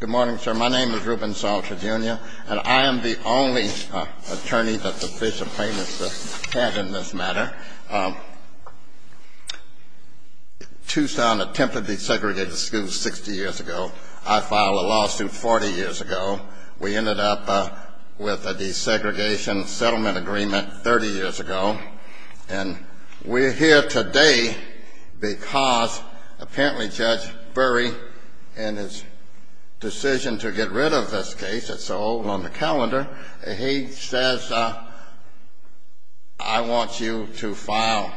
Good morning, sir. My name is Ruben Salter, Jr., and I am the only attorney that the Fisher plaintiffs had in this matter. Tucson attempted to desegregate the school 60 years ago. I filed a lawsuit 40 years ago. We ended up with a desegregation settlement agreement 30 years ago. And we're here today because apparently Judge Burry, in his decision to get rid of this case that's so old on the calendar, he says, I want you to file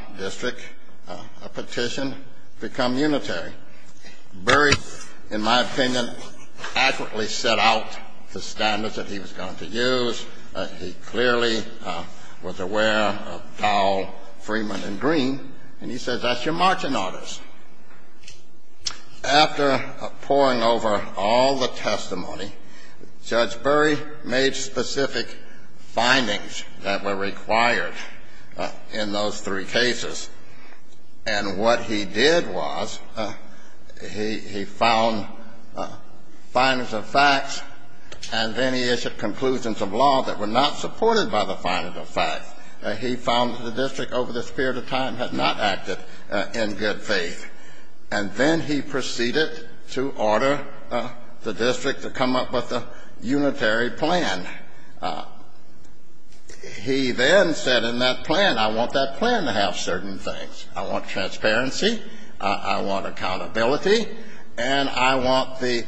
a petition to become unitary. Burry, in my opinion, accurately set out the standards that he was going to use. He clearly was aware of Dowell, Freeman, and Green. And he says, that's your margin on this. After poring over all the testimony, Judge Burry made specific findings that were required in those three cases. And what he did was he found findings of facts, and then he issued conclusions of law that were not supported by the findings of facts. He found that the district, over the period of time, had not acted in good faith. And then he proceeded to order the district to come up with a unitary plan. He then said in that plan, I want that plan to have certain things. I want transparency. I want accountability. And I want the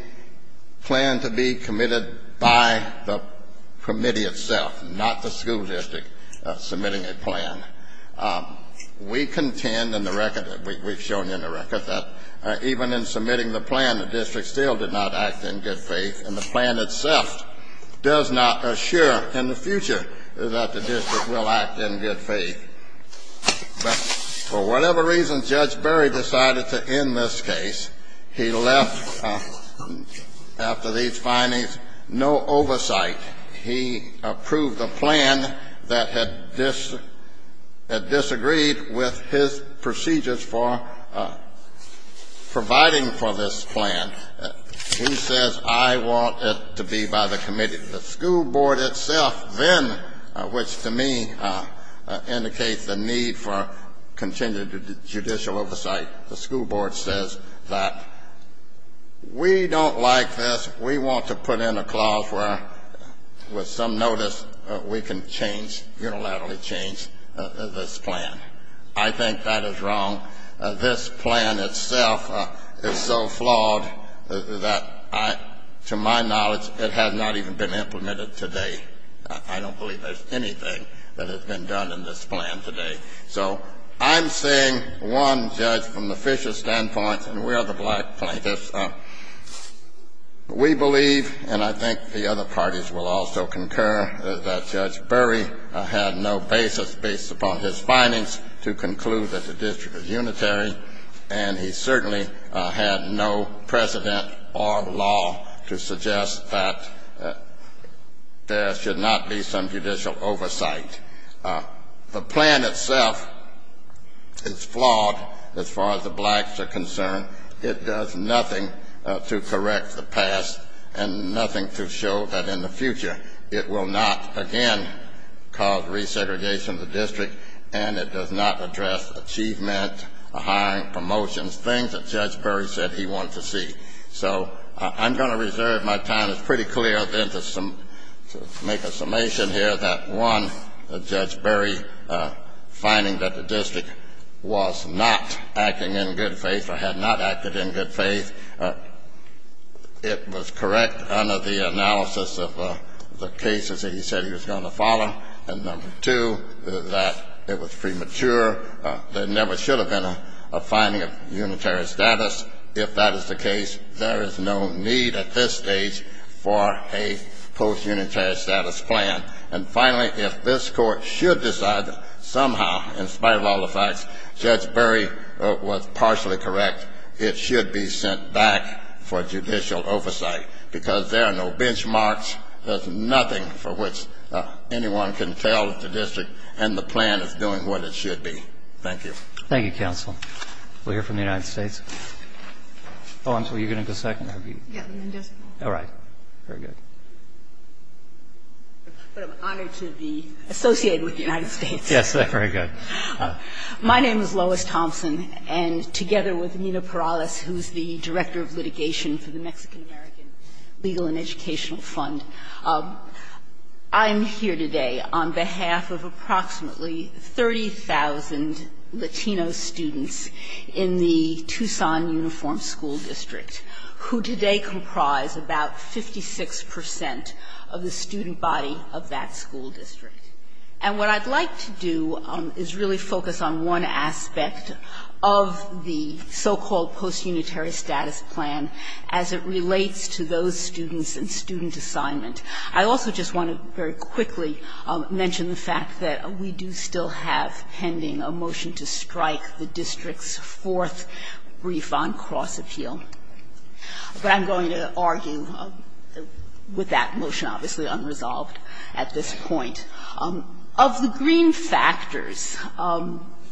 plan to be committed by the committee itself, not the school district submitting a plan. We contend in the record, we've shown you in the record, that even in submitting the plan, the district still did not act in good faith, and the plan itself does not assure in the future that the district will act in good faith. But for whatever reason, Judge Burry decided to end this case. He left, after these findings, no oversight. He approved a plan that had disagreed with his procedures for providing for this plan. He says, I want it to be by the committee. The school board itself then, which to me indicates the need for continued judicial oversight, the school board says that we don't like this. We want to put in a clause where, with some notice, we can change, unilaterally change, this plan. I think that is wrong. This plan itself is so flawed that, to my knowledge, it has not even been implemented today. I don't believe there's anything that has been done in this plan today. So I'm saying, one, Judge, from the Fisher standpoint, and we are the black plaintiffs, we believe, and I think the other parties will also concur, that Judge Burry had no basis, based upon his findings, to conclude that the district is unitary, and he certainly had no precedent or law to suggest that there should not be some judicial oversight. The plan itself is flawed, as far as the blacks are concerned. It does nothing to correct the past and nothing to show that, in the future, it will not again cause resegregation of the district, and it does not address achievement, hiring, promotions, things that Judge Burry said he wanted to see. So I'm going to reserve my time. It's pretty clear, then, to make a summation here that, one, Judge Burry finding that the district was not acting in good faith or had not acted in good faith, it was correct under the analysis of the cases that he said he was going to follow, and, number two, that it was premature. There never should have been a finding of unitary status. If that is the case, there is no need, at this stage, for a post-unitary status plan. And, finally, if this Court should decide that, somehow, in spite of all the facts, Judge Burry was partially correct, it should be sent back for judicial oversight, because there are no benchmarks. There's nothing for which anyone can tell that the district and the plan is doing what it should be. Thank you. Thank you, Counsel. We'll hear from the United States. Oh, I'm sorry. You're going to go second? Yes. All right. Very good. But I'm honored to be associated with the United States. Yes, very good. My name is Lois Thompson, and together with Nina Perales, who's the Director of Litigation for the Mexican-American Legal and Educational Fund, I'm here today on behalf of approximately 30,000 Latino students in the Tucson Uniform School District, who today comprise about 56 percent of the student body of that school district. And what I'd like to do is really focus on one aspect of the so-called post-unitary status plan as it relates to those students and student assignment. I also just want to very quickly mention the fact that we do still have pending a motion to strike the district's fourth brief on cross-appeal. But I'm going to argue with that motion obviously unresolved at this point. Of the green factors,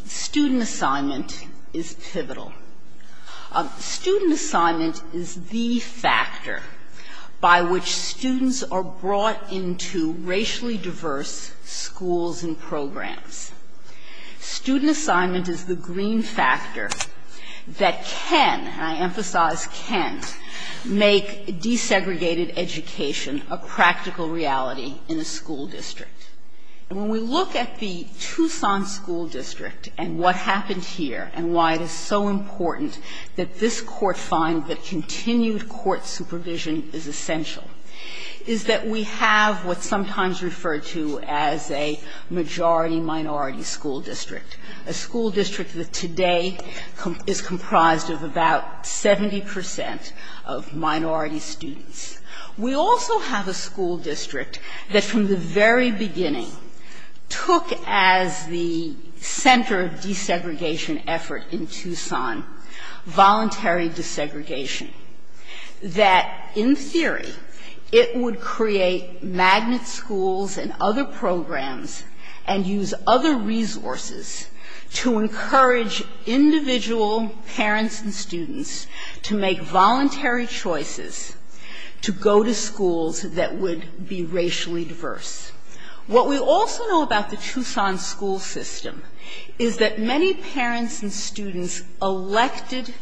student assignment is pivotal. Student assignment is the factor by which students are brought into racially diverse schools and programs. Student assignment is the green factor that can, and I emphasize can't, make desegregated education a practical reality in a school district. And when we look at the Tucson School District and what happened here and why it is so important that this Court find that continued court supervision is essential, is that we have what's sometimes referred to as a majority-minority school district, a school district that today is comprised of about 70 percent of minority students. We also have a school district that from the very beginning took as the center of desegregation effort in Tucson voluntary desegregation, that in theory it would create magnet schools and other programs and use other resources to encourage individual parents and students to make voluntary choices, to go to schools that would be racially diverse. What we also know about the Tucson school system is that many parents and students elected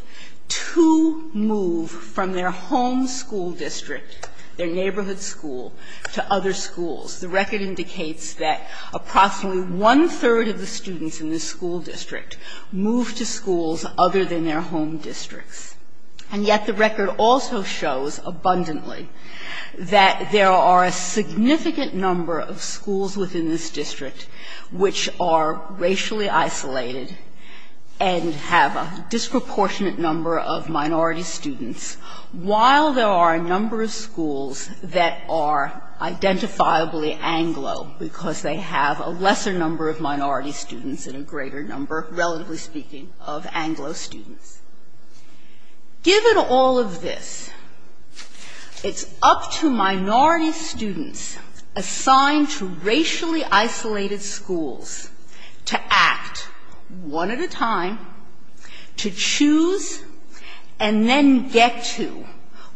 to move from their home school district, their neighborhood school, to other schools. The record indicates that approximately one-third of the students in this school district moved to schools other than their home districts. And yet the record also shows abundantly that there are a significant number of schools within this district which are racially isolated and have a disproportionate number of minority students, while there are a number of schools that are identifiably Anglo because they have a lesser number of minority students and a greater number relatively speaking of Anglo students. Given all of this, it's up to minority students assigned to racially isolated schools to act one at a time, to choose and then get to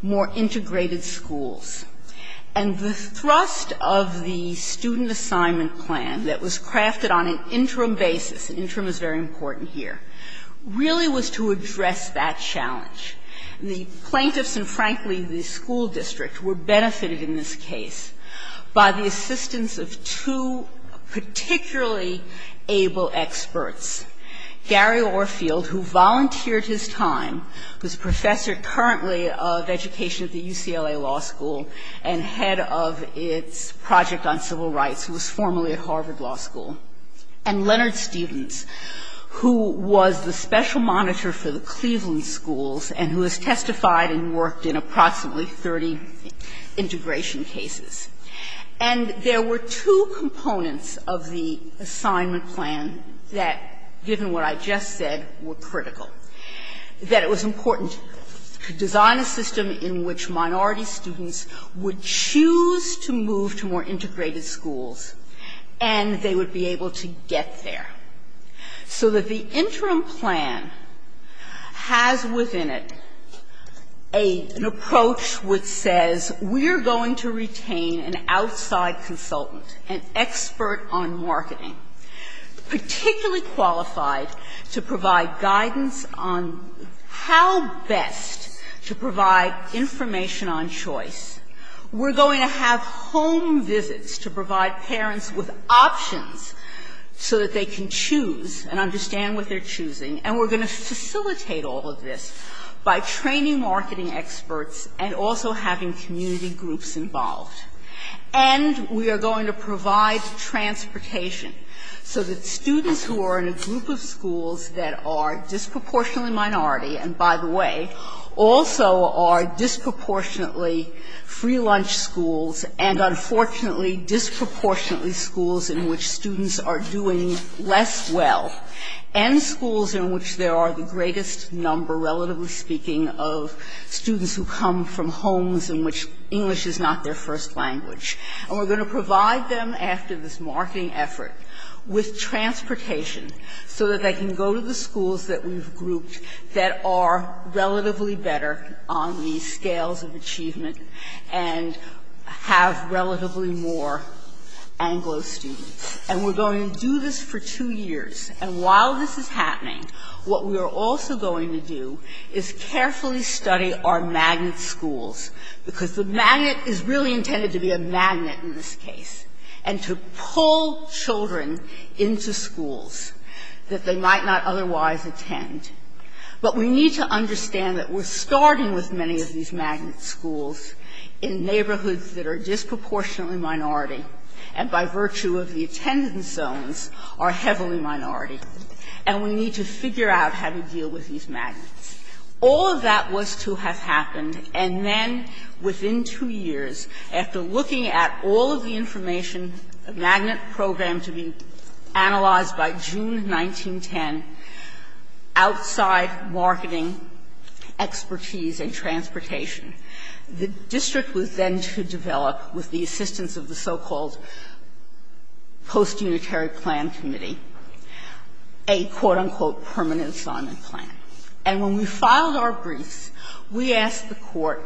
more integrated schools. And the thrust of the student assignment plan that was crafted on an interim basis and interim is very important here, really was to address that challenge. The plaintiffs and frankly the school district were benefited in this case by the assistance of two particularly able experts. Gary Orfield, who volunteered his time, who's a professor currently of education at the UCLA Law School and head of its project on civil rights, who was formerly at Harvard Law School, and Leonard Stevens, who was the special monitor for the Cleveland schools and who has testified and worked in approximately 30 integration cases. And there were two components of the assignment plan that, given what I just said, were critical, that it was important to design a system in which minority students would choose to move to more integrated schools and they would be able to get there, so that the interim plan has within it an approach which says we are going to retain an outside consultant, an expert on marketing, particularly qualified to provide guidance on how best to provide information on choice. We're going to have home visits to provide parents with options so that they can choose and understand what they're choosing. And we're going to facilitate all of this by training marketing experts and also having community groups involved. And we are going to provide transportation so that students who are in a group of schools that are disproportionately minority and, by the way, also are disproportionately free lunch schools and, unfortunately, disproportionately schools in which students are doing less well, and schools in which there are the greatest number, relatively speaking, of students who come from homes in which English is not their first language. And we're going to provide them, after this marketing effort, with transportation so that they can go to the schools that we've grouped that are relatively better on the scales of achievement and have relatively more Anglo students. And we're going to do this for two years. And while this is happening, what we are also going to do is carefully study our magnet schools, because the magnet is really intended to be a magnet in this case and to pull children into schools that they might not otherwise attend. But we need to understand that we're starting with many of these magnet schools in neighborhoods that are disproportionately minority and, by virtue of the attendance zones, are heavily minority. And we need to figure out how to deal with these magnets. All of that was to have happened, and then, within two years, after looking at all of the information, the magnet program to be analyzed by June 1910, outside marketing, expertise, and transportation, the district was then to develop, with the assistance of the so-called post-unitary plan committee, a, quote-unquote, permanent Simon plan. And when we filed our briefs, we asked the Court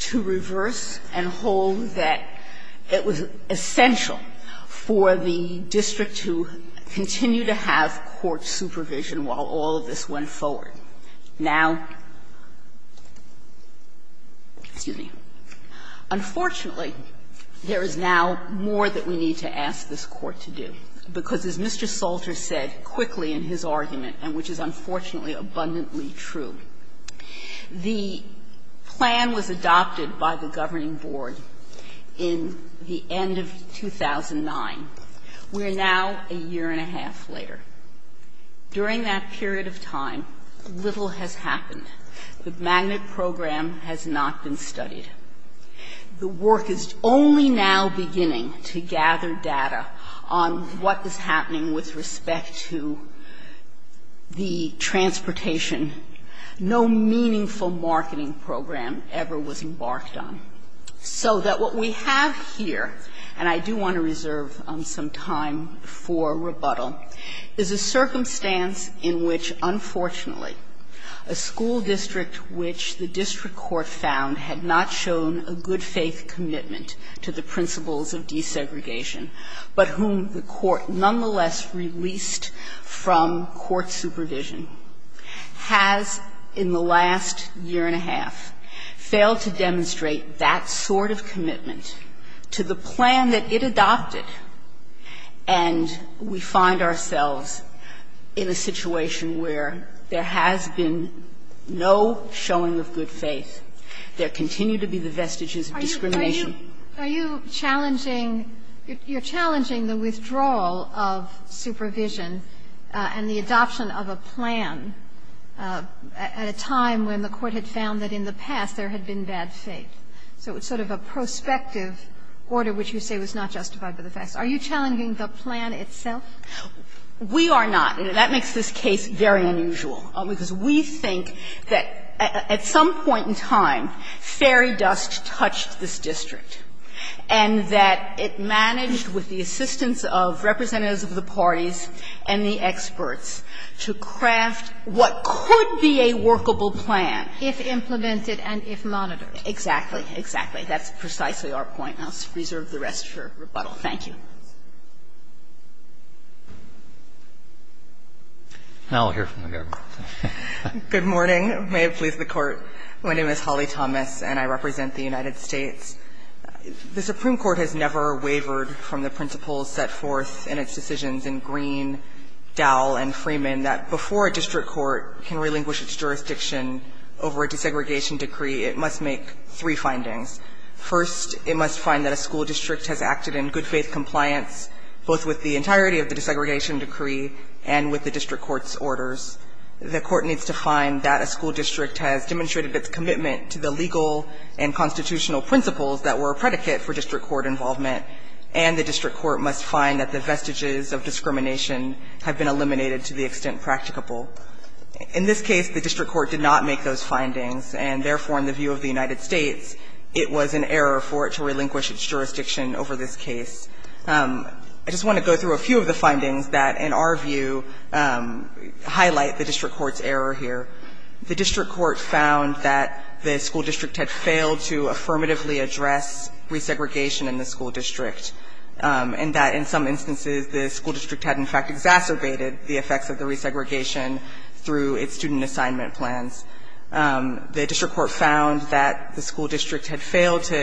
to reverse and hold that it was essential for the district to continue to have court supervision while all of this went forward. Now, excuse me, unfortunately, there is now more that we need to ask this Court to do, because, as Mr. Salter said quickly in his argument, and which is unfortunately abundantly true, the plan was adopted by the governing board in the end of 2009. We are now a year and a half later. During that period of time, little has happened. The magnet program has not been studied. The work is only now beginning to gather data on what is happening with respect to the transportation. No meaningful marketing program ever was embarked on. So that what we have here, and I do want to reserve some time for rebuttal, is a circumstance in which, unfortunately, a school district which the district court found had not shown a good-faith commitment to the principles of desegregation, but whom the Court nonetheless released from court supervision, has in the last year and a half failed to demonstrate that sort of commitment to the plan that it adopted, and we find ourselves in a situation where there has been no showing of good faith. There continue to be the vestiges of discrimination. Are you challenging the withdrawal of supervision and the adoption of a plan at a time when the Court had found that in the past there had been bad faith? So it's sort of a prospective order which you say was not justified by the facts. Are you challenging the plan itself? We are not, and that makes this case very unusual, because we think that at some point in time, fairy dust touched this district, and that it managed, with the assistance of representatives of the parties and the experts, to craft what could be a workable plan. If implemented and if monitored. Exactly. Exactly. That's precisely our point. I'll reserve the rest for rebuttal. Thank you. Now we'll hear from the government. Good morning. May it please the Court. My name is Holly Thomas, and I represent the United States. The Supreme Court has never wavered from the principles set forth in its decisions in Green, Dowell, and Freeman that before a district court can relinquish its jurisdiction over a desegregation decree, it must make three findings. First, it must find that a school district has acted in good faith compliance both with the entirety of the desegregation decree and with the district court's orders. The court needs to find that a school district has demonstrated its commitment to the legal and constitutional principles that were a predicate for district court involvement, and the district court must find that the vestiges of discrimination have been eliminated to the extent practicable. In this case, the district court did not make those findings, and therefore, in the view of the United States, it was an error for it to relinquish its jurisdiction over this case. I just want to go through a few of the findings that, in our view, highlight the district court's error here. The district court found that the school district had failed to affirmatively address resegregation in the school district, and that in some instances, the school district had failed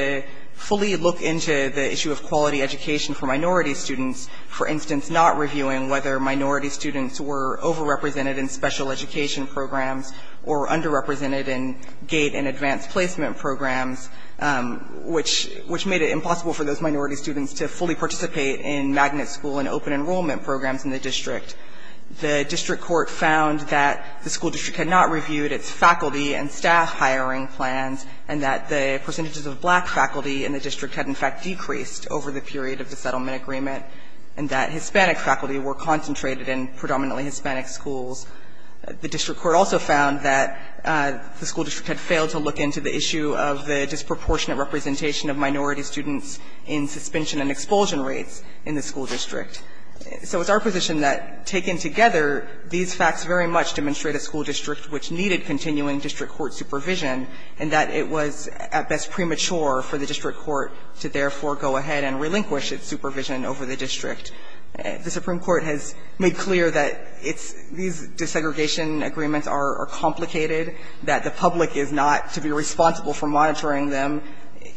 to fully look into the issue of quality education for minority students, for instance, not reviewing whether minority students were overrepresented in special education programs or underrepresented in GATE and advanced placement programs, which made it impossible for those minority students to fully participate in magnet school and open enrollment programs in the district. The district court found that the school district had not reviewed its faculty and staff hiring plans, and that the percentages of black faculty in the district had, in fact, decreased over the period of the settlement agreement, and that Hispanic faculty were concentrated in predominantly Hispanic schools. The district court also found that the school district had failed to look into the issue of the disproportionate representation of minority students in suspension and expulsion rates in the school district. So it's our position that, taken together, these facts very much demonstrate a school district which needed continuing district court supervision, and that it was at best premature for the district court to therefore go ahead and relinquish its supervision over the district. The Supreme Court has made clear that it's these desegregation agreements are complicated, that the public is not to be responsible for monitoring them.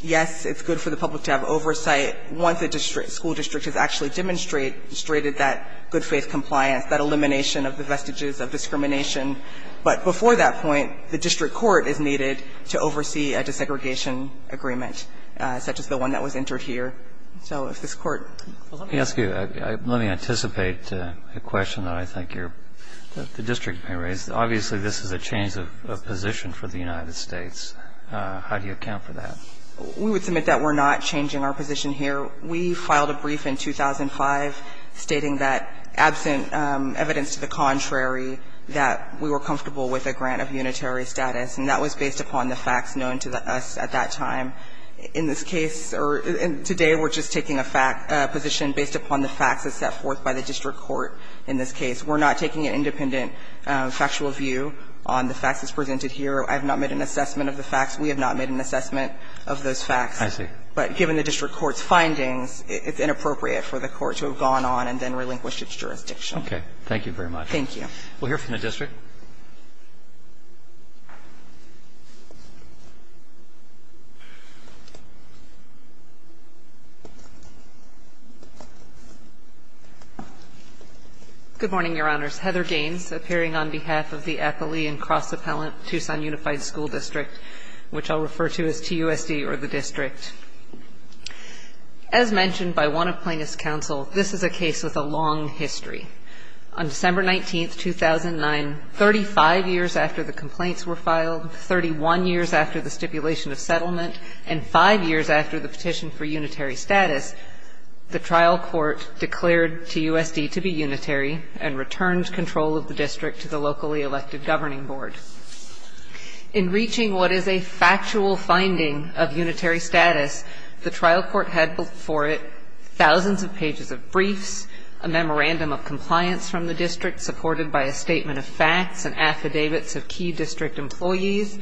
Yes, it's good for the public to have oversight once a district school district has actually demonstrated that good faith compliance, that elimination of the vestiges of discrimination. But before that point, the district court is needed to oversee a desegregation agreement, such as the one that was entered here. So if this court... Let me ask you, let me anticipate a question that I think the district may raise. Obviously, this is a change of position for the United States. How do you account for that? We would submit that we're not changing our position here. We filed a brief in 2005 stating that, absent evidence to the contrary, that we were comfortable with a grant of unitary status, and that was based upon the facts known to us at that time. In this case, or today, we're just taking a position based upon the facts as set forth by the district court in this case. We're not taking an independent factual view on the facts as presented here. I have not made an assessment of the facts. We have not made an assessment of those facts. I see. But given the district court's findings, it's inappropriate for the court to have gone on and then relinquished its jurisdiction. Okay. Thank you very much. Thank you. We'll hear from the district. Good morning, Your Honors. Heather Gaines, appearing on behalf of the Appalachian Cross Appellant Tucson Unified School District, which I'll refer to as TUSD or the district. As mentioned by one of plaintiff's counsel, this is a case with a long history. On December 19, 2009, 35 years after the complaints were filed, 31 years after the stipulation of settlement, and 5 years after the petition for unitary status, the trial court declared TUSD to be unitary and returned control of the district to the locally elected governing board. In reaching what is a factual finding of unitary status, the trial court had before it thousands of pages of briefs, a memorandum of compliance from the district supported by a statement of facts and affidavits of key district employees,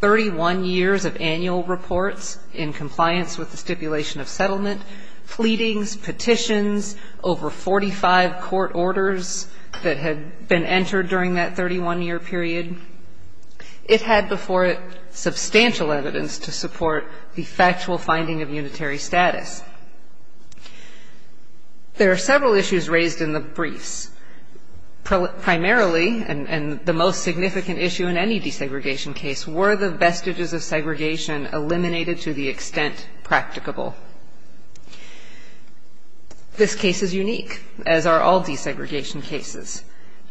31 years of annual reports in compliance with the stipulation of settlement, pleadings, petitions, over 45 court orders that had been entered during that 31-year period. It had before it substantial evidence to support the factual finding of unitary status. There are several issues raised in the briefs. Primarily, and the most significant issue in any desegregation case, were the vestiges of segregation eliminated to the extent practicable. This case is unique, as are all desegregation cases.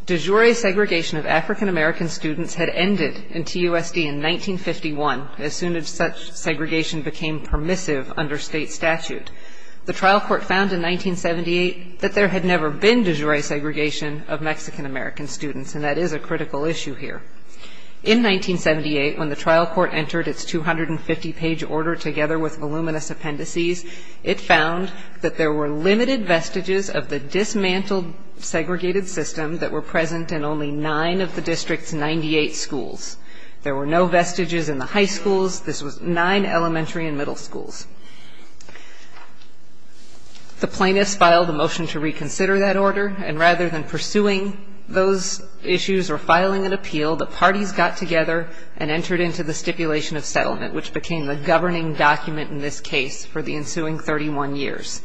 De jure segregation of African-American students had ended in TUSD in 1951, as soon as such segregation became permissive under state statute. The trial court found in 1978 that there had never been de jure segregation of Mexican-American students, and that is a critical issue here. In 1978, when the trial court entered its 250-page order together with voluminous appendices, it found that there were limited vestiges of the dismantled segregated system that were present in only nine of the district's 98 schools. There were no vestiges in the high schools. This was nine elementary and middle schools. The plaintiffs filed a motion to reconsider that order, and rather than pursuing those issues or filing an appeal, the parties got together and entered into the stipulation of settlement, which became the governing document in this case for the ensuing 31 years.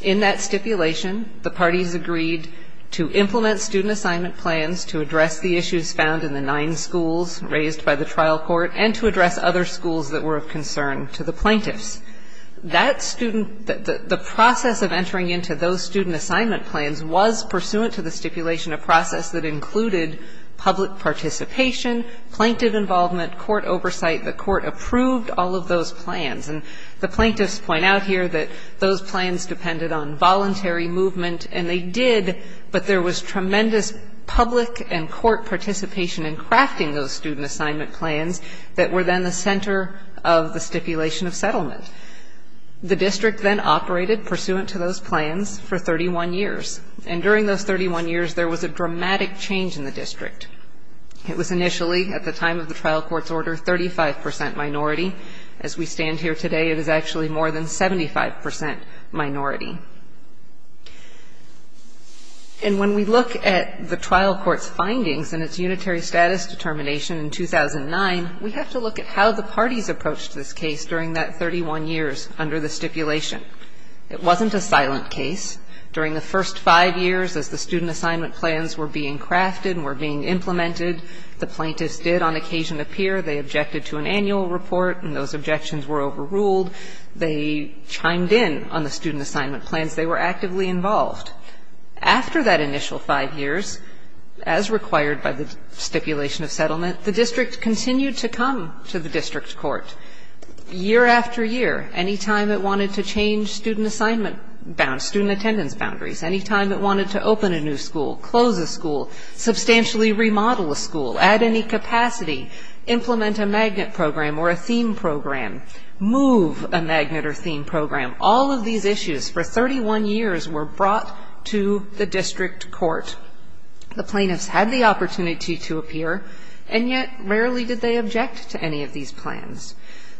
In that stipulation, the parties agreed to implement student assignment plans to address the issues found in the nine schools raised by the trial court and to address other schools that were of concern to the plaintiffs. That student, the process of entering into those student assignment plans was pursuant to the stipulation of process that included public participation, plaintiff involvement, court oversight, the court approved all of those plans. And the plaintiffs point out here that those plans depended on voluntary movement, and they did, but there was tremendous public and court participation in crafting those student assignment plans that were then the center of the stipulation of settlement. The district then operated pursuant to those plans for 31 years. And during those 31 years, there was a dramatic change in the district. It was initially, at the time of the trial court's order, 35% minority. As we stand here today, it is actually more than 75% minority. And when we look at the trial court's findings and its unitary status determination in 2009, we have to look at how the parties approached this case during that 31 years under the stipulation. It wasn't a silent case. During the first five years as the student assignment plans were being crafted and were being implemented, the plaintiffs did on occasion appear. They objected to an annual report, and those objections were overruled. They chimed in on the student assignment plans. They were actively involved. After that initial five years, as required by the stipulation of settlement, the district continued to come to the district court year after year, any time it wanted to change student assignment, student attendance boundaries, any time it wanted to open a new school, close a school, substantially remodel a school, add any capacity, implement a magnet program or a theme program, move a magnet or theme program. All of these issues for 31 years were brought to the district court. The plaintiffs had the opportunity to appear, and yet rarely did they object to any of these plans.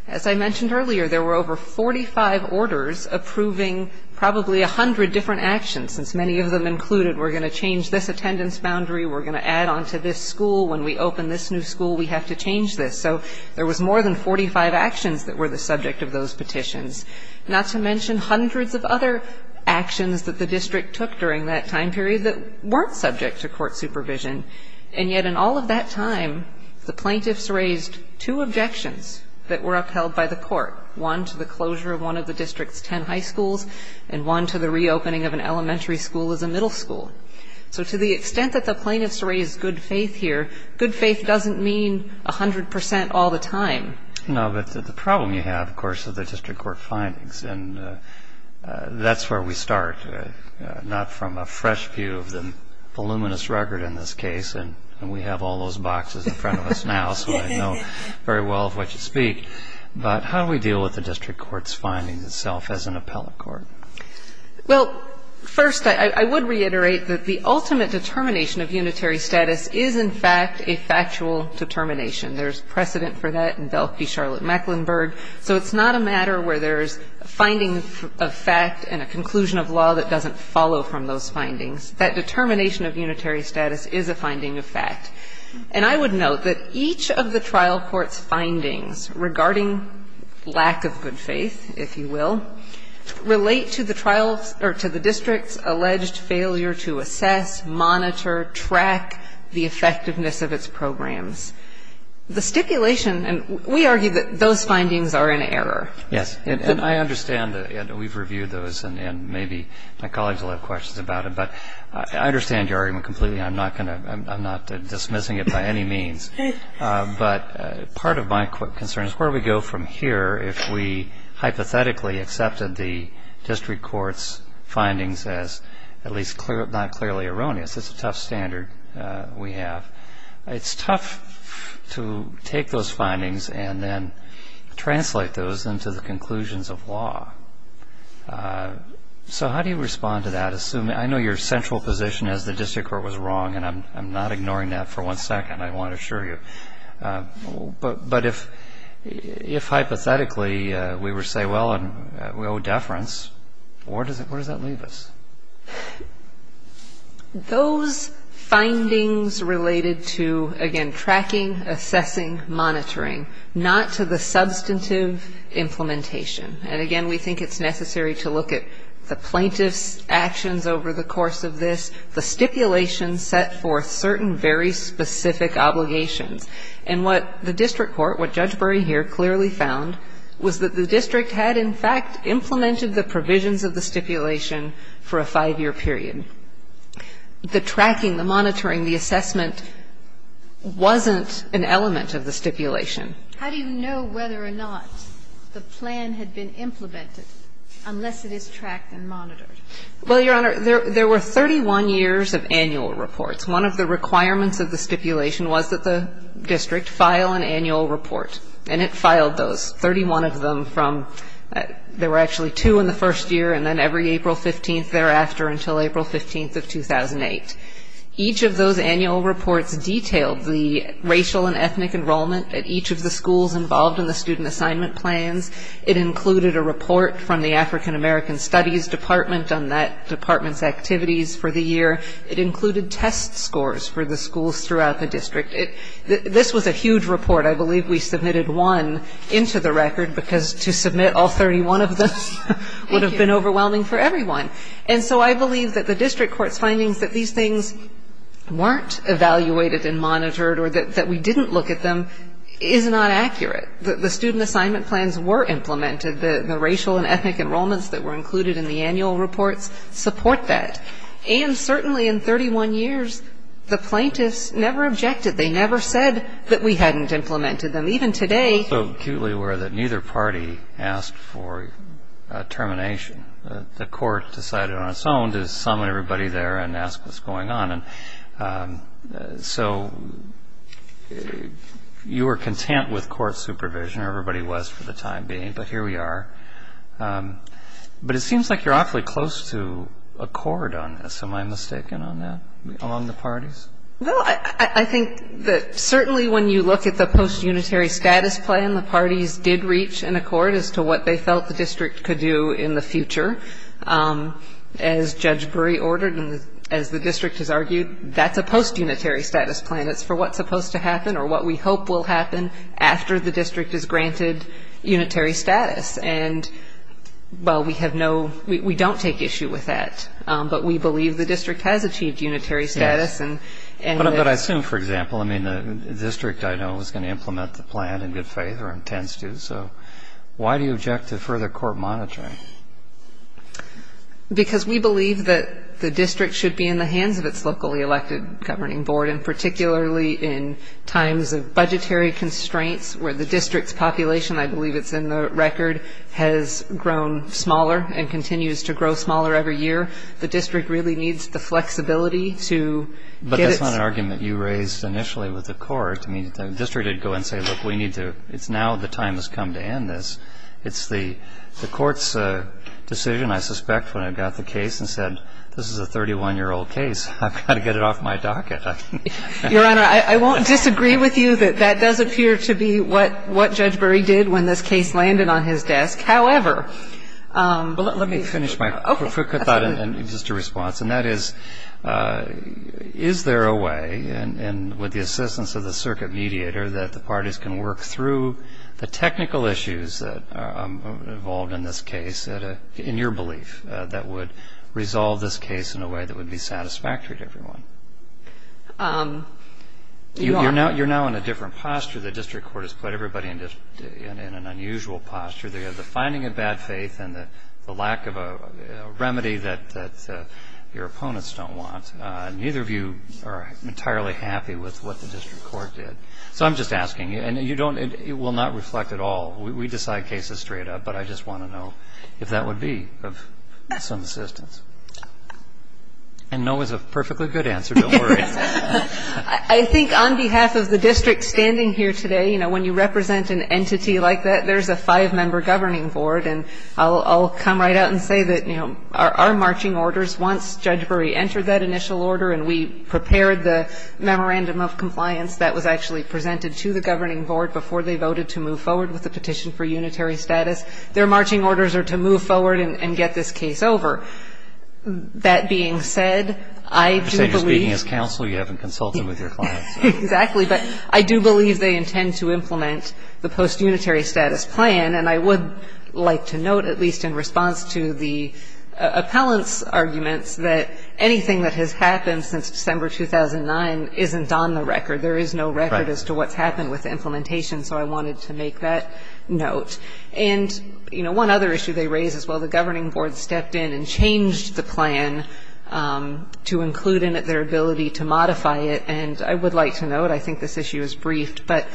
As I mentioned earlier, there were over 45 orders approving probably 100 different actions, since many of them included, we're going to change this attendance boundary, we're going to add on to this school. When we open this new school, we have to change this. So there was more than 45 actions that were the subject of those petitions, not to mention hundreds of other actions that the district took during that time period that weren't subject to court supervision. And yet in all of that time, the plaintiffs raised two objections that were upheld by the court. One to the closure of one of the district's ten high schools, and one to the reopening of an elementary school as a middle school. So to the extent that the plaintiffs raised good faith here, good faith doesn't mean 100% all the time. No, but the problem you have, of course, is the district court findings. And that's where we start, not from a fresh view of the voluminous record in this case. And we have all those boxes in front of us now, so I know very well of what you speak. But how do we deal with the district court's findings itself as an appellate court? Well, first, I would reiterate that the ultimate determination of unitary status is, in fact, a factual determination. There's precedent for that in Belk v. Charlotte-Mecklenburg. So it's not a matter where there's a finding of fact and a conclusion of law that doesn't follow from those findings. That determination of unitary status is a finding of fact. And I would note that each of the trial court's findings regarding lack of good faith, and I will, relate to the district's alleged failure to assess, monitor, track the effectiveness of its programs. The stipulation, and we argue that those findings are in error. Yes. And I understand that we've reviewed those, and maybe my colleagues will have questions about it. But I understand your argument completely. I'm not going to, I'm not dismissing it by any means. But part of my concern is where we go from here if we hypothetically accepted the district court's findings as, at least, not clearly erroneous. It's a tough standard we have. It's tough to take those findings and then translate those into the conclusions of law. So how do you respond to that? I know your central position is the district court was wrong. And I'm not ignoring that for one second, I want to assure you. But if hypothetically we were to say, well, and we owe deference, where does that leave us? Those findings related to, again, tracking, assessing, monitoring. Not to the substantive implementation. And again, we think it's necessary to look at the plaintiff's actions over the course of this. The stipulation set forth certain very specific obligations. And what the district court, what Judge Berry here clearly found, was that the district had, in fact, implemented the provisions of the stipulation for a five-year period. The tracking, the monitoring, the assessment wasn't an element of the stipulation. How do you know whether or not the plan had been implemented unless it is tracked and monitored? Well, Your Honor, there were 31 years of annual reports. One of the requirements of the stipulation was that the district file an annual report. And it filed those, 31 of them from, there were actually two in the first year and then every April 15th thereafter until April 15th of 2008. Each of those annual reports detailed the racial and ethnic enrollment at each of the schools involved in the student assignment plans. It included a report from the African American Studies Department on that department's activities for the year. It included test scores for the schools throughout the district. This was a huge report. I believe we submitted one into the record because to submit all 31 of them would have been overwhelming for everyone. And so I believe that the district court's findings that these things weren't evaluated and monitored or that we didn't look at them is not accurate. The student assignment plans were implemented. The racial and ethnic enrollments that were included in the annual reports support that. And certainly in 31 years, the plaintiffs never objected. They never said that we hadn't implemented them. Even today... So acutely aware that neither party asked for termination. The court decided on its own to summon everybody there and ask what's going on. And so you were content with court supervision. Everybody was for the time being. But here we are. But it seems like you're awfully close to a court on this. Am I mistaken on that? On the parties? Well, I think that certainly when you look at the post-unitary status plan, the parties did reach an accord as to what they felt the district could do in the future. As Judge Brey ordered and as the district has argued, that's a post-unitary status plan. It's for what's supposed to happen or what we hope will happen after the district is granted unitary status. And, well, we have no... We don't take issue with that. But we believe the district has achieved unitary status and... But I assume, for example, I mean the district I know is going to implement the plan in good faith or intends to. So why do you object to further court monitoring? Because we believe that the district should be in the hands of its locally elected governing board and particularly in times of budgetary constraints where the district's population, I believe it's in the record, has grown smaller and continues to grow smaller every year. The district really needs the flexibility to get its... But that's not an argument you raised initially with the court. I mean, the district didn't go and say, look, we need to, it's now the time has come to end this. It's the court's decision, I suspect, when it got the case and said, this is a 31-year-old case. I've got to get it off my docket. Your Honor, I won't disagree with you that that does appear to be what Judge Brey did when this case landed on his desk. However... Let me finish my quick thought and just a response. And that is, is there a way, and with the assistance of the circuit mediator, that the parties can work through the technical issues involved in this case, in your belief, that would resolve this case in a way that would be satisfactory to everyone? Your Honor... I'm not going to say that I'm not in an unusual posture. The finding of bad faith and the lack of a remedy that your opponents don't want, neither of you are entirely happy with what the district court did. So I'm just asking, and you don't, it will not reflect at all. We decide cases straight up, but I just want to know if that would be of some assistance. And no is a perfectly good answer, don't worry. I think on behalf of the district standing here today, you know, when you represent an entity like that, there's a five-member governing board, and I'll come right out and say that, you know, our marching orders, once Judge Brey entered that initial order and we prepared the memorandum of compliance that was actually presented to the governing board before they voted to move forward with the petition for unitary status, their marching orders are to move forward and get this case over. That being said, I do believe... I understand you're speaking as counsel. You haven't consulted with your clients. Exactly. But I do believe they intend to implement the post-unitary status plan. And I would like to note, at least in response to the appellant's arguments, that anything that has happened since December 2009 isn't on the record. There is no record as to what's happened with the implementation, so I wanted to make that note. And, you know, one other issue they raise is, well, the governing board stepped in and changed the plan to include in it their ability to modify it, and I would like to note, I think this issue is briefed, but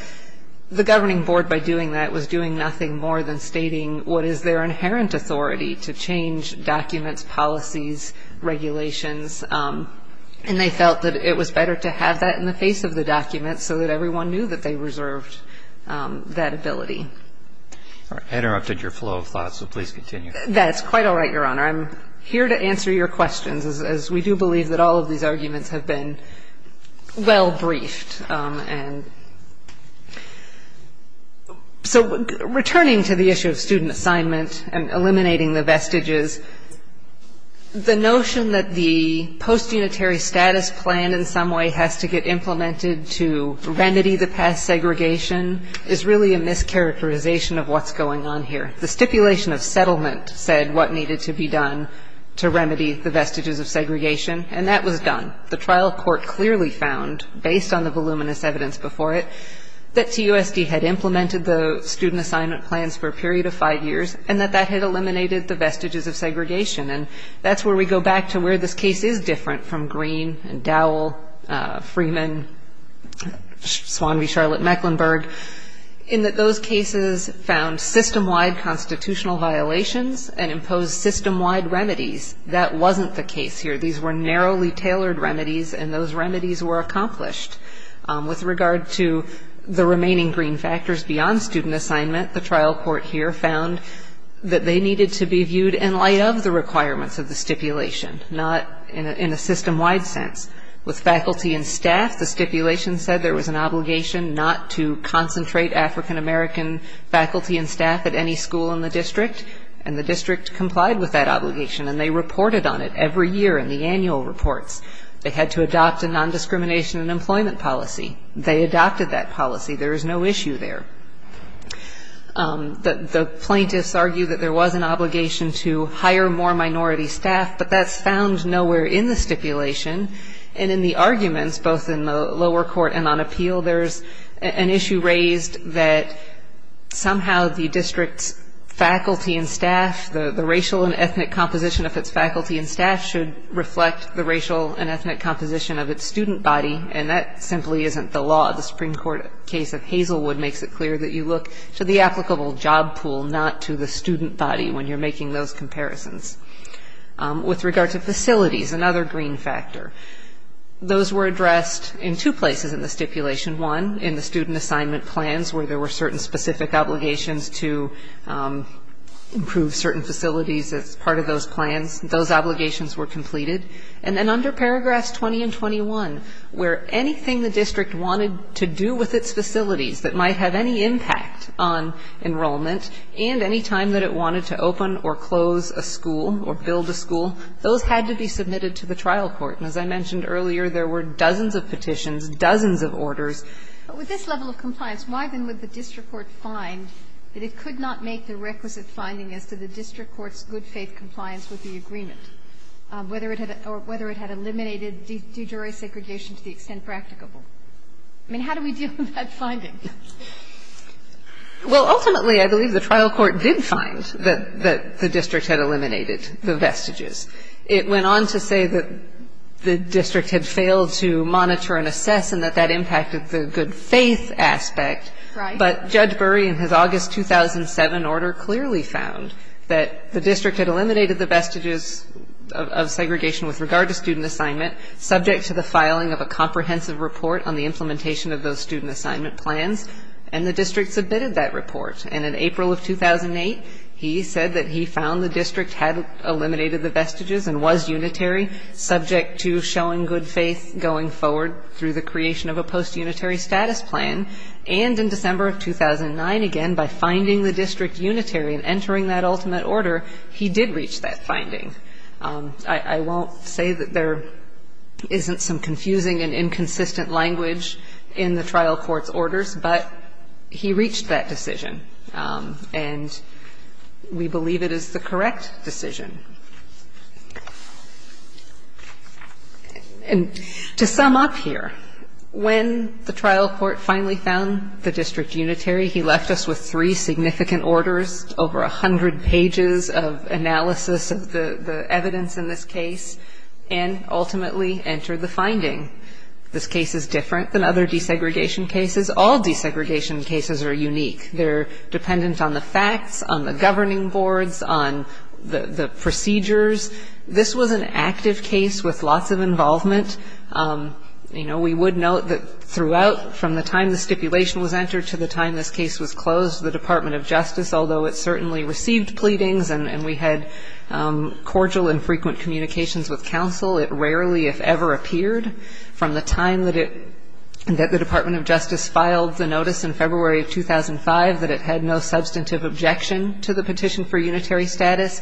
the governing board, by doing that, was doing nothing more than stating what is their inherent authority to change documents, policies, regulations, and they felt that it was better to have that in the face of the document so that everyone knew that they reserved that ability. I interrupted your flow of thought, so please continue. That's quite all right, Your Honor. I'm here to answer your questions, as we do believe that all of these arguments have been well briefed, and so returning to the issue of student assignment and eliminating the vestiges, the notion that the postunitary status plan in some way has to get implemented to remedy the past segregation is really a mischaracterization of what's going on here. The stipulation of settlement said what needed to be done to remedy the vestiges of segregation, and that was done. The trial court clearly found, based on the voluminous evidence before it, that CUSD had implemented the student assignment plans for a period of five years and that that had eliminated the vestiges of segregation, and that's where we go back to where this case is different from Green and Dowell, Freeman, Swan v. Charlotte-Mecklenburg, in that those cases found system-wide constitutional violations and imposed system-wide remedies. That wasn't the case here. These were narrowly tailored remedies, and those remedies were accomplished. With regard to the remaining green factors beyond student assignment, the trial court here found that they needed to be viewed in light of the requirements of the stipulation, not in a system-wide sense. With faculty and staff, the stipulation said there was an obligation not to concentrate African-American faculty and staff at any school in the district, and the district complied with that obligation, and they reported on it every year in the annual reports. They had to adopt a nondiscrimination and employment policy. They adopted that policy. There is no issue there. The plaintiffs argue that there was an obligation to hire more minority staff, but that's found nowhere in the stipulation. And in the arguments, both in the lower court and on appeal, there's an issue raised that somehow the district's faculty and staff, the racial and ethnic composition of its faculty and staff should reflect the racial and ethnic composition of its student body, and that simply isn't the law. The Supreme Court case of Hazelwood makes it clear that you look to the applicable job pool, not to the student body when you're making those comparisons. With regard to facilities, another green factor, those were addressed in two places in the stipulation. One, in the student assignment plans where there were certain specific obligations to improve certain facilities as part of those plans. Those obligations were completed. And then under paragraphs 20 and 21, where anything the district wanted to do with its facilities that might have any impact on enrollment and any time that it wanted to open or close a school or build a school, those had to be submitted to the trial court. And as I mentioned earlier, there were dozens of petitions, dozens of orders. But with this level of compliance, why, then, would the district court find that it could not make the requisite finding as to the district court's good-faith compliance with the agreement, whether it had eliminated de jure segregation to the extent practicable? I mean, how do we deal with that finding? Well, ultimately, I believe the trial court did find that the district had eliminated the vestiges. It went on to say that the district had failed to monitor and assess and that that was a good-faith aspect. But Judge Burry, in his August 2007 order, clearly found that the district had eliminated the vestiges of segregation with regard to student assignment, subject to the filing of a comprehensive report on the implementation of those student assignment plans. And the district submitted that report. And in April of 2008, he said that he found the district had eliminated the vestiges and was unitary, subject to showing good faith going forward through the creation of a post-unitary status plan. And in December of 2009, again, by finding the district unitary and entering that ultimate order, he did reach that finding. I won't say that there isn't some confusing and inconsistent language in the trial court's orders, but he reached that decision. And we believe it is the correct decision. And to sum up here, when the trial court finally found the district unitary, he left us with three significant orders, over 100 pages of analysis of the evidence in this case, and ultimately entered the finding. This case is different than other desegregation cases. All desegregation cases are unique. They're dependent on the facts, on the governing boards, on the presumption procedures. This was an active case with lots of involvement. You know, we would note that throughout, from the time the stipulation was entered to the time this case was closed, the Department of Justice, although it certainly received pleadings and we had cordial and frequent communications with counsel, it rarely, if ever, appeared. From the time that the Department of Justice filed the notice in February of 2005 that it had no substantive objection to the petition for unitary status,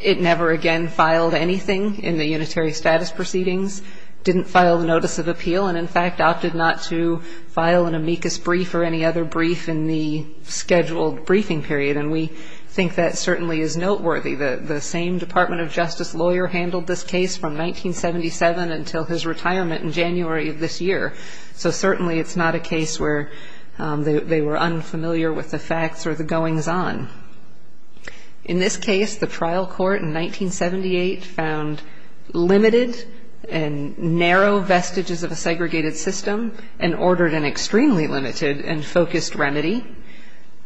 it never again filed anything in the unitary status proceedings, didn't file the notice of appeal, and in fact opted not to file an amicus brief or any other brief in the scheduled briefing period. And we think that certainly is noteworthy. The same Department of Justice lawyer handled this case from 1977 until his retirement in January of this year. So certainly it's not a case where they were unfamiliar with the facts or the goings-on. In this case, the trial court in 1978 found limited and narrow vestiges of a segregated system and ordered an extremely limited and focused remedy.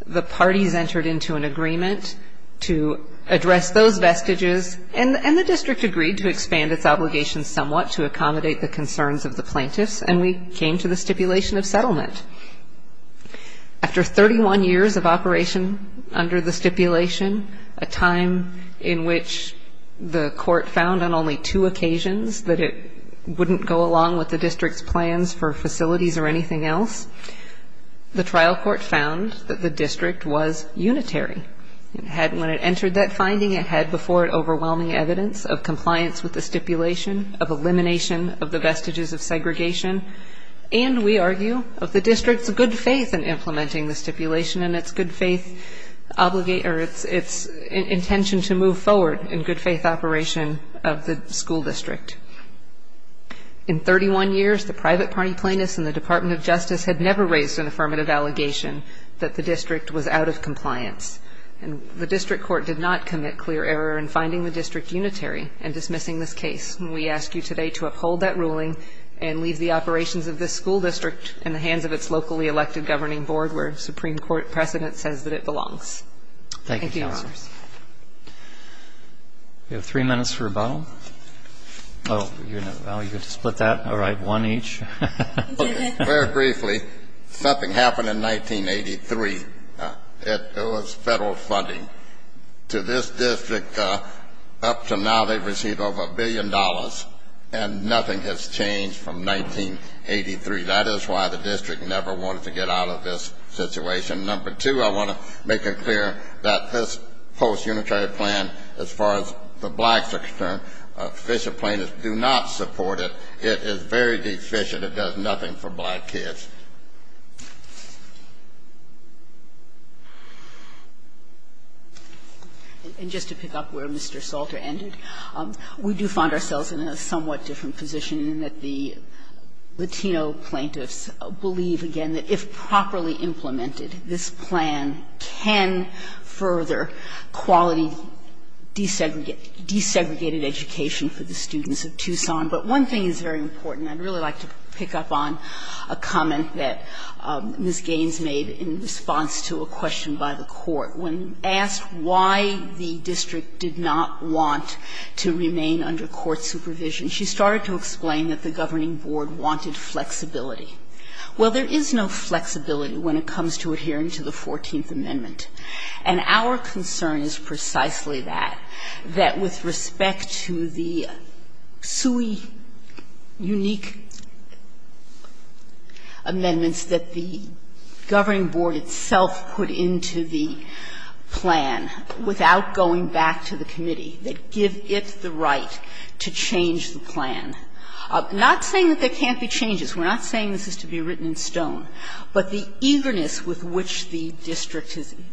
The parties entered into an agreement to address those vestiges and the district agreed to expand its obligations somewhat to accommodate the concerns of the plaintiffs, and we came to the stipulation of settlement. After 31 years of operation under the stipulation, a time in which the court found on only two occasions that it wouldn't go along with the district's plans for facilities or anything else, the trial court found that the district was unitary. When it entered that finding, it had before it overwhelming evidence of compliance with the stipulation of elimination of the vestiges of segregation and we argue of the district's good faith in implementing the stipulation and its good faith obligation or its intention to move forward in good faith operation of the school district. In 31 years, the private party plaintiffs and the Department of Justice had never raised an affirmative allegation that the district was out of compliance. And the district court did not commit clear error in finding the district unitary and dismissing this case. And we ask you today to uphold that ruling and leave the operations of this school district in the hands of its locally elected governing board where Supreme Court precedent says that it belongs. Thank you, Your Honors. Thank you, Counselors. We have three minutes for rebuttal. Oh, you're going to split that? All right. One each. Very briefly, something happened in 1983. It was Federal funding to this district. Up until now, they've received over a billion dollars and nothing has changed from 1983. That is why the district never wanted to get out of this situation. Number two, I want to make it clear that this post-unitary plan, as far as the blacks are concerned, official plaintiffs do not support it. It is very deficient. It does nothing for black kids. And just to pick up where Mr. Salter ended, we do find ourselves in a somewhat different position in that the Latino plaintiffs believe, again, that if properly implemented, this plan can further quality desegregated education for the students of Tucson. But one thing is very important. I'd really like to pick up on a comment that Ms. Gaines made in response to a question by the court. When asked why the district did not want to remain under court supervision, she started to explain that the governing board wanted flexibility. Well, there is no flexibility when it comes to adhering to the Fourteenth Amendment. And our concern is precisely that, that with respect to the SUI unique amendments that the governing board itself put into the plan without going back to the committee, that give it the right to change the plan. I'm not saying that there can't be changes. We're not saying this is to be written in stone. But the eagerness with which the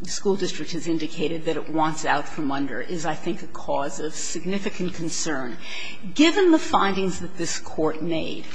school district has indicated that it wants out from under is, I think, a cause of significant concern. Given the findings that this Court made,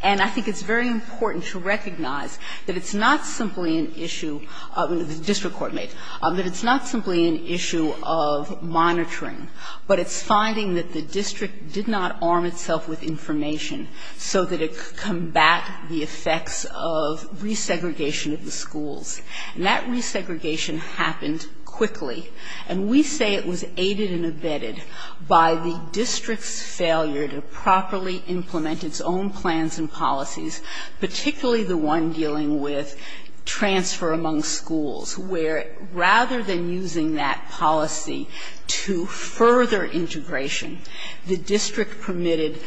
and I think it's very important to recognize that it's not simply an issue, the district court made, that it's not simply an issue of monitoring, but it's finding that the district did not arm itself with information so that it could combat the effects of resegregation of the schools. And that resegregation happened quickly. And we say it was aided and abetted by the district's failure to properly implement its own plans and policies, particularly the one dealing with transfer among schools, where rather than using that policy to further integration, the district permitted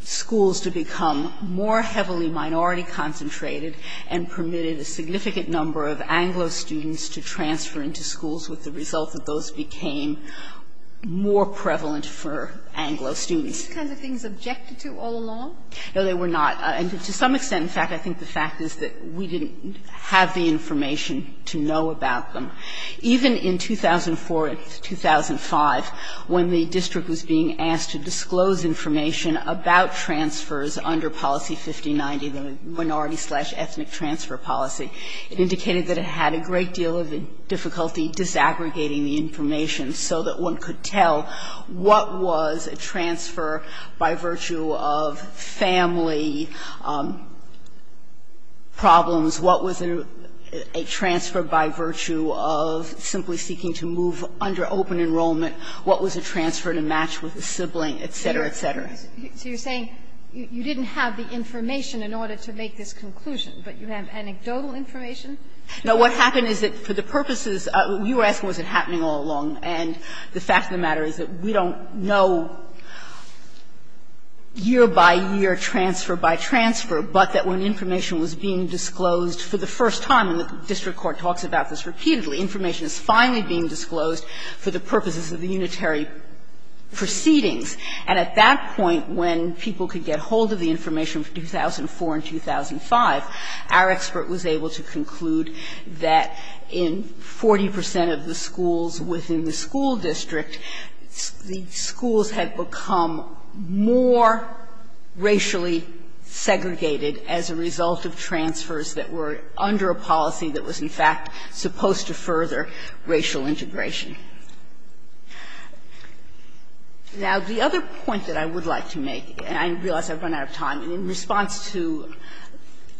schools to become more heavily minority concentrated and permitted a significant number of Anglo students to transfer into schools with the result that those became more prevalent for Anglo students. These kinds of things objected to all along? No, they were not. And to some extent, in fact, I think the fact is that we didn't have the information to know about them. Even in 2004 and 2005, when the district was being asked to disclose information about transfers under Policy 5090, the Minority Slash Ethnic Transfer Policy, it indicated that it had a great deal of difficulty disaggregating the information so that one could tell what was a transfer by virtue of family problems, what was a transfer by virtue of simply seeking to move under open enrollment, what was a transfer to match with a sibling, et cetera, et cetera. So you're saying you didn't have the information in order to make this conclusion, but you have anecdotal information? No. What happened is that for the purposes of the U.S., was it happening all along? And the fact of the matter is that we don't know year by year, transfer by transfer, but that when information was being disclosed for the first time, and the district court talks about this repeatedly, information is finally being disclosed for the purposes of the unitary proceedings. And at that point, when people could get hold of the information from 2004 and 2005, our expert was able to conclude that in 40 percent of the schools within the school district, the schools had become more racially segregated as a result of transfers that were under a policy that was, in fact, supposed to further racial integration. Now, the other point that I would like to make, and I realize I've run out of time in response to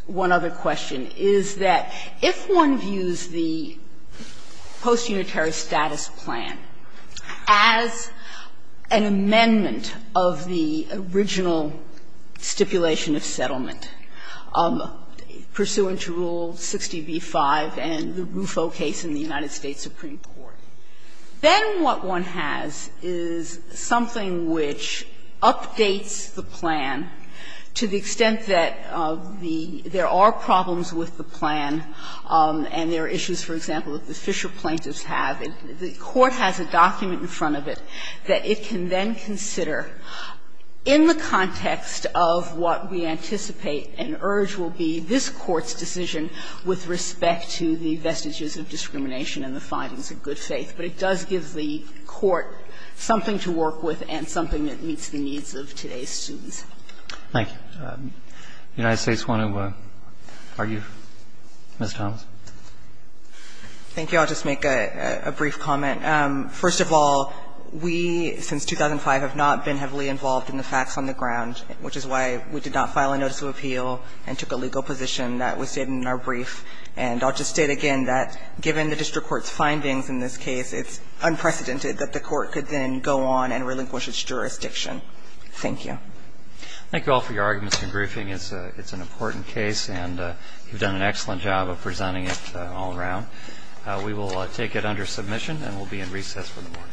one other question, is that if one views the post-unitary status plan as an amendment of the original stipulation of settlement pursuant to Rule 60b-5 and the Rufo case in the United States Supreme Court, that would be a violation of the statute. Then what one has is something which updates the plan to the extent that the – there are problems with the plan and there are issues, for example, that the Fisher plaintiffs have. The court has a document in front of it that it can then consider in the context of what we anticipate and urge will be this Court's decision with respect to the vestiges of discrimination and the findings of good faith. But it does give the Court something to work with and something that meets the needs of today's students. Roberts. Thank you. If the United States want to argue, Ms. Thomas. Thank you. I'll just make a brief comment. First of all, we, since 2005, have not been heavily involved in the facts on the ground which is why we did not file a notice of appeal and took a legal position that was stated in our brief, and I'll just state again that given the district court's findings in this case, it's unprecedented that the court could then go on and relinquish its jurisdiction. Thank you. Thank you all for your arguments and briefing. It's an important case and you've done an excellent job of presenting it all around. We will take it under submission and we'll be in recess for the morning. Thank you.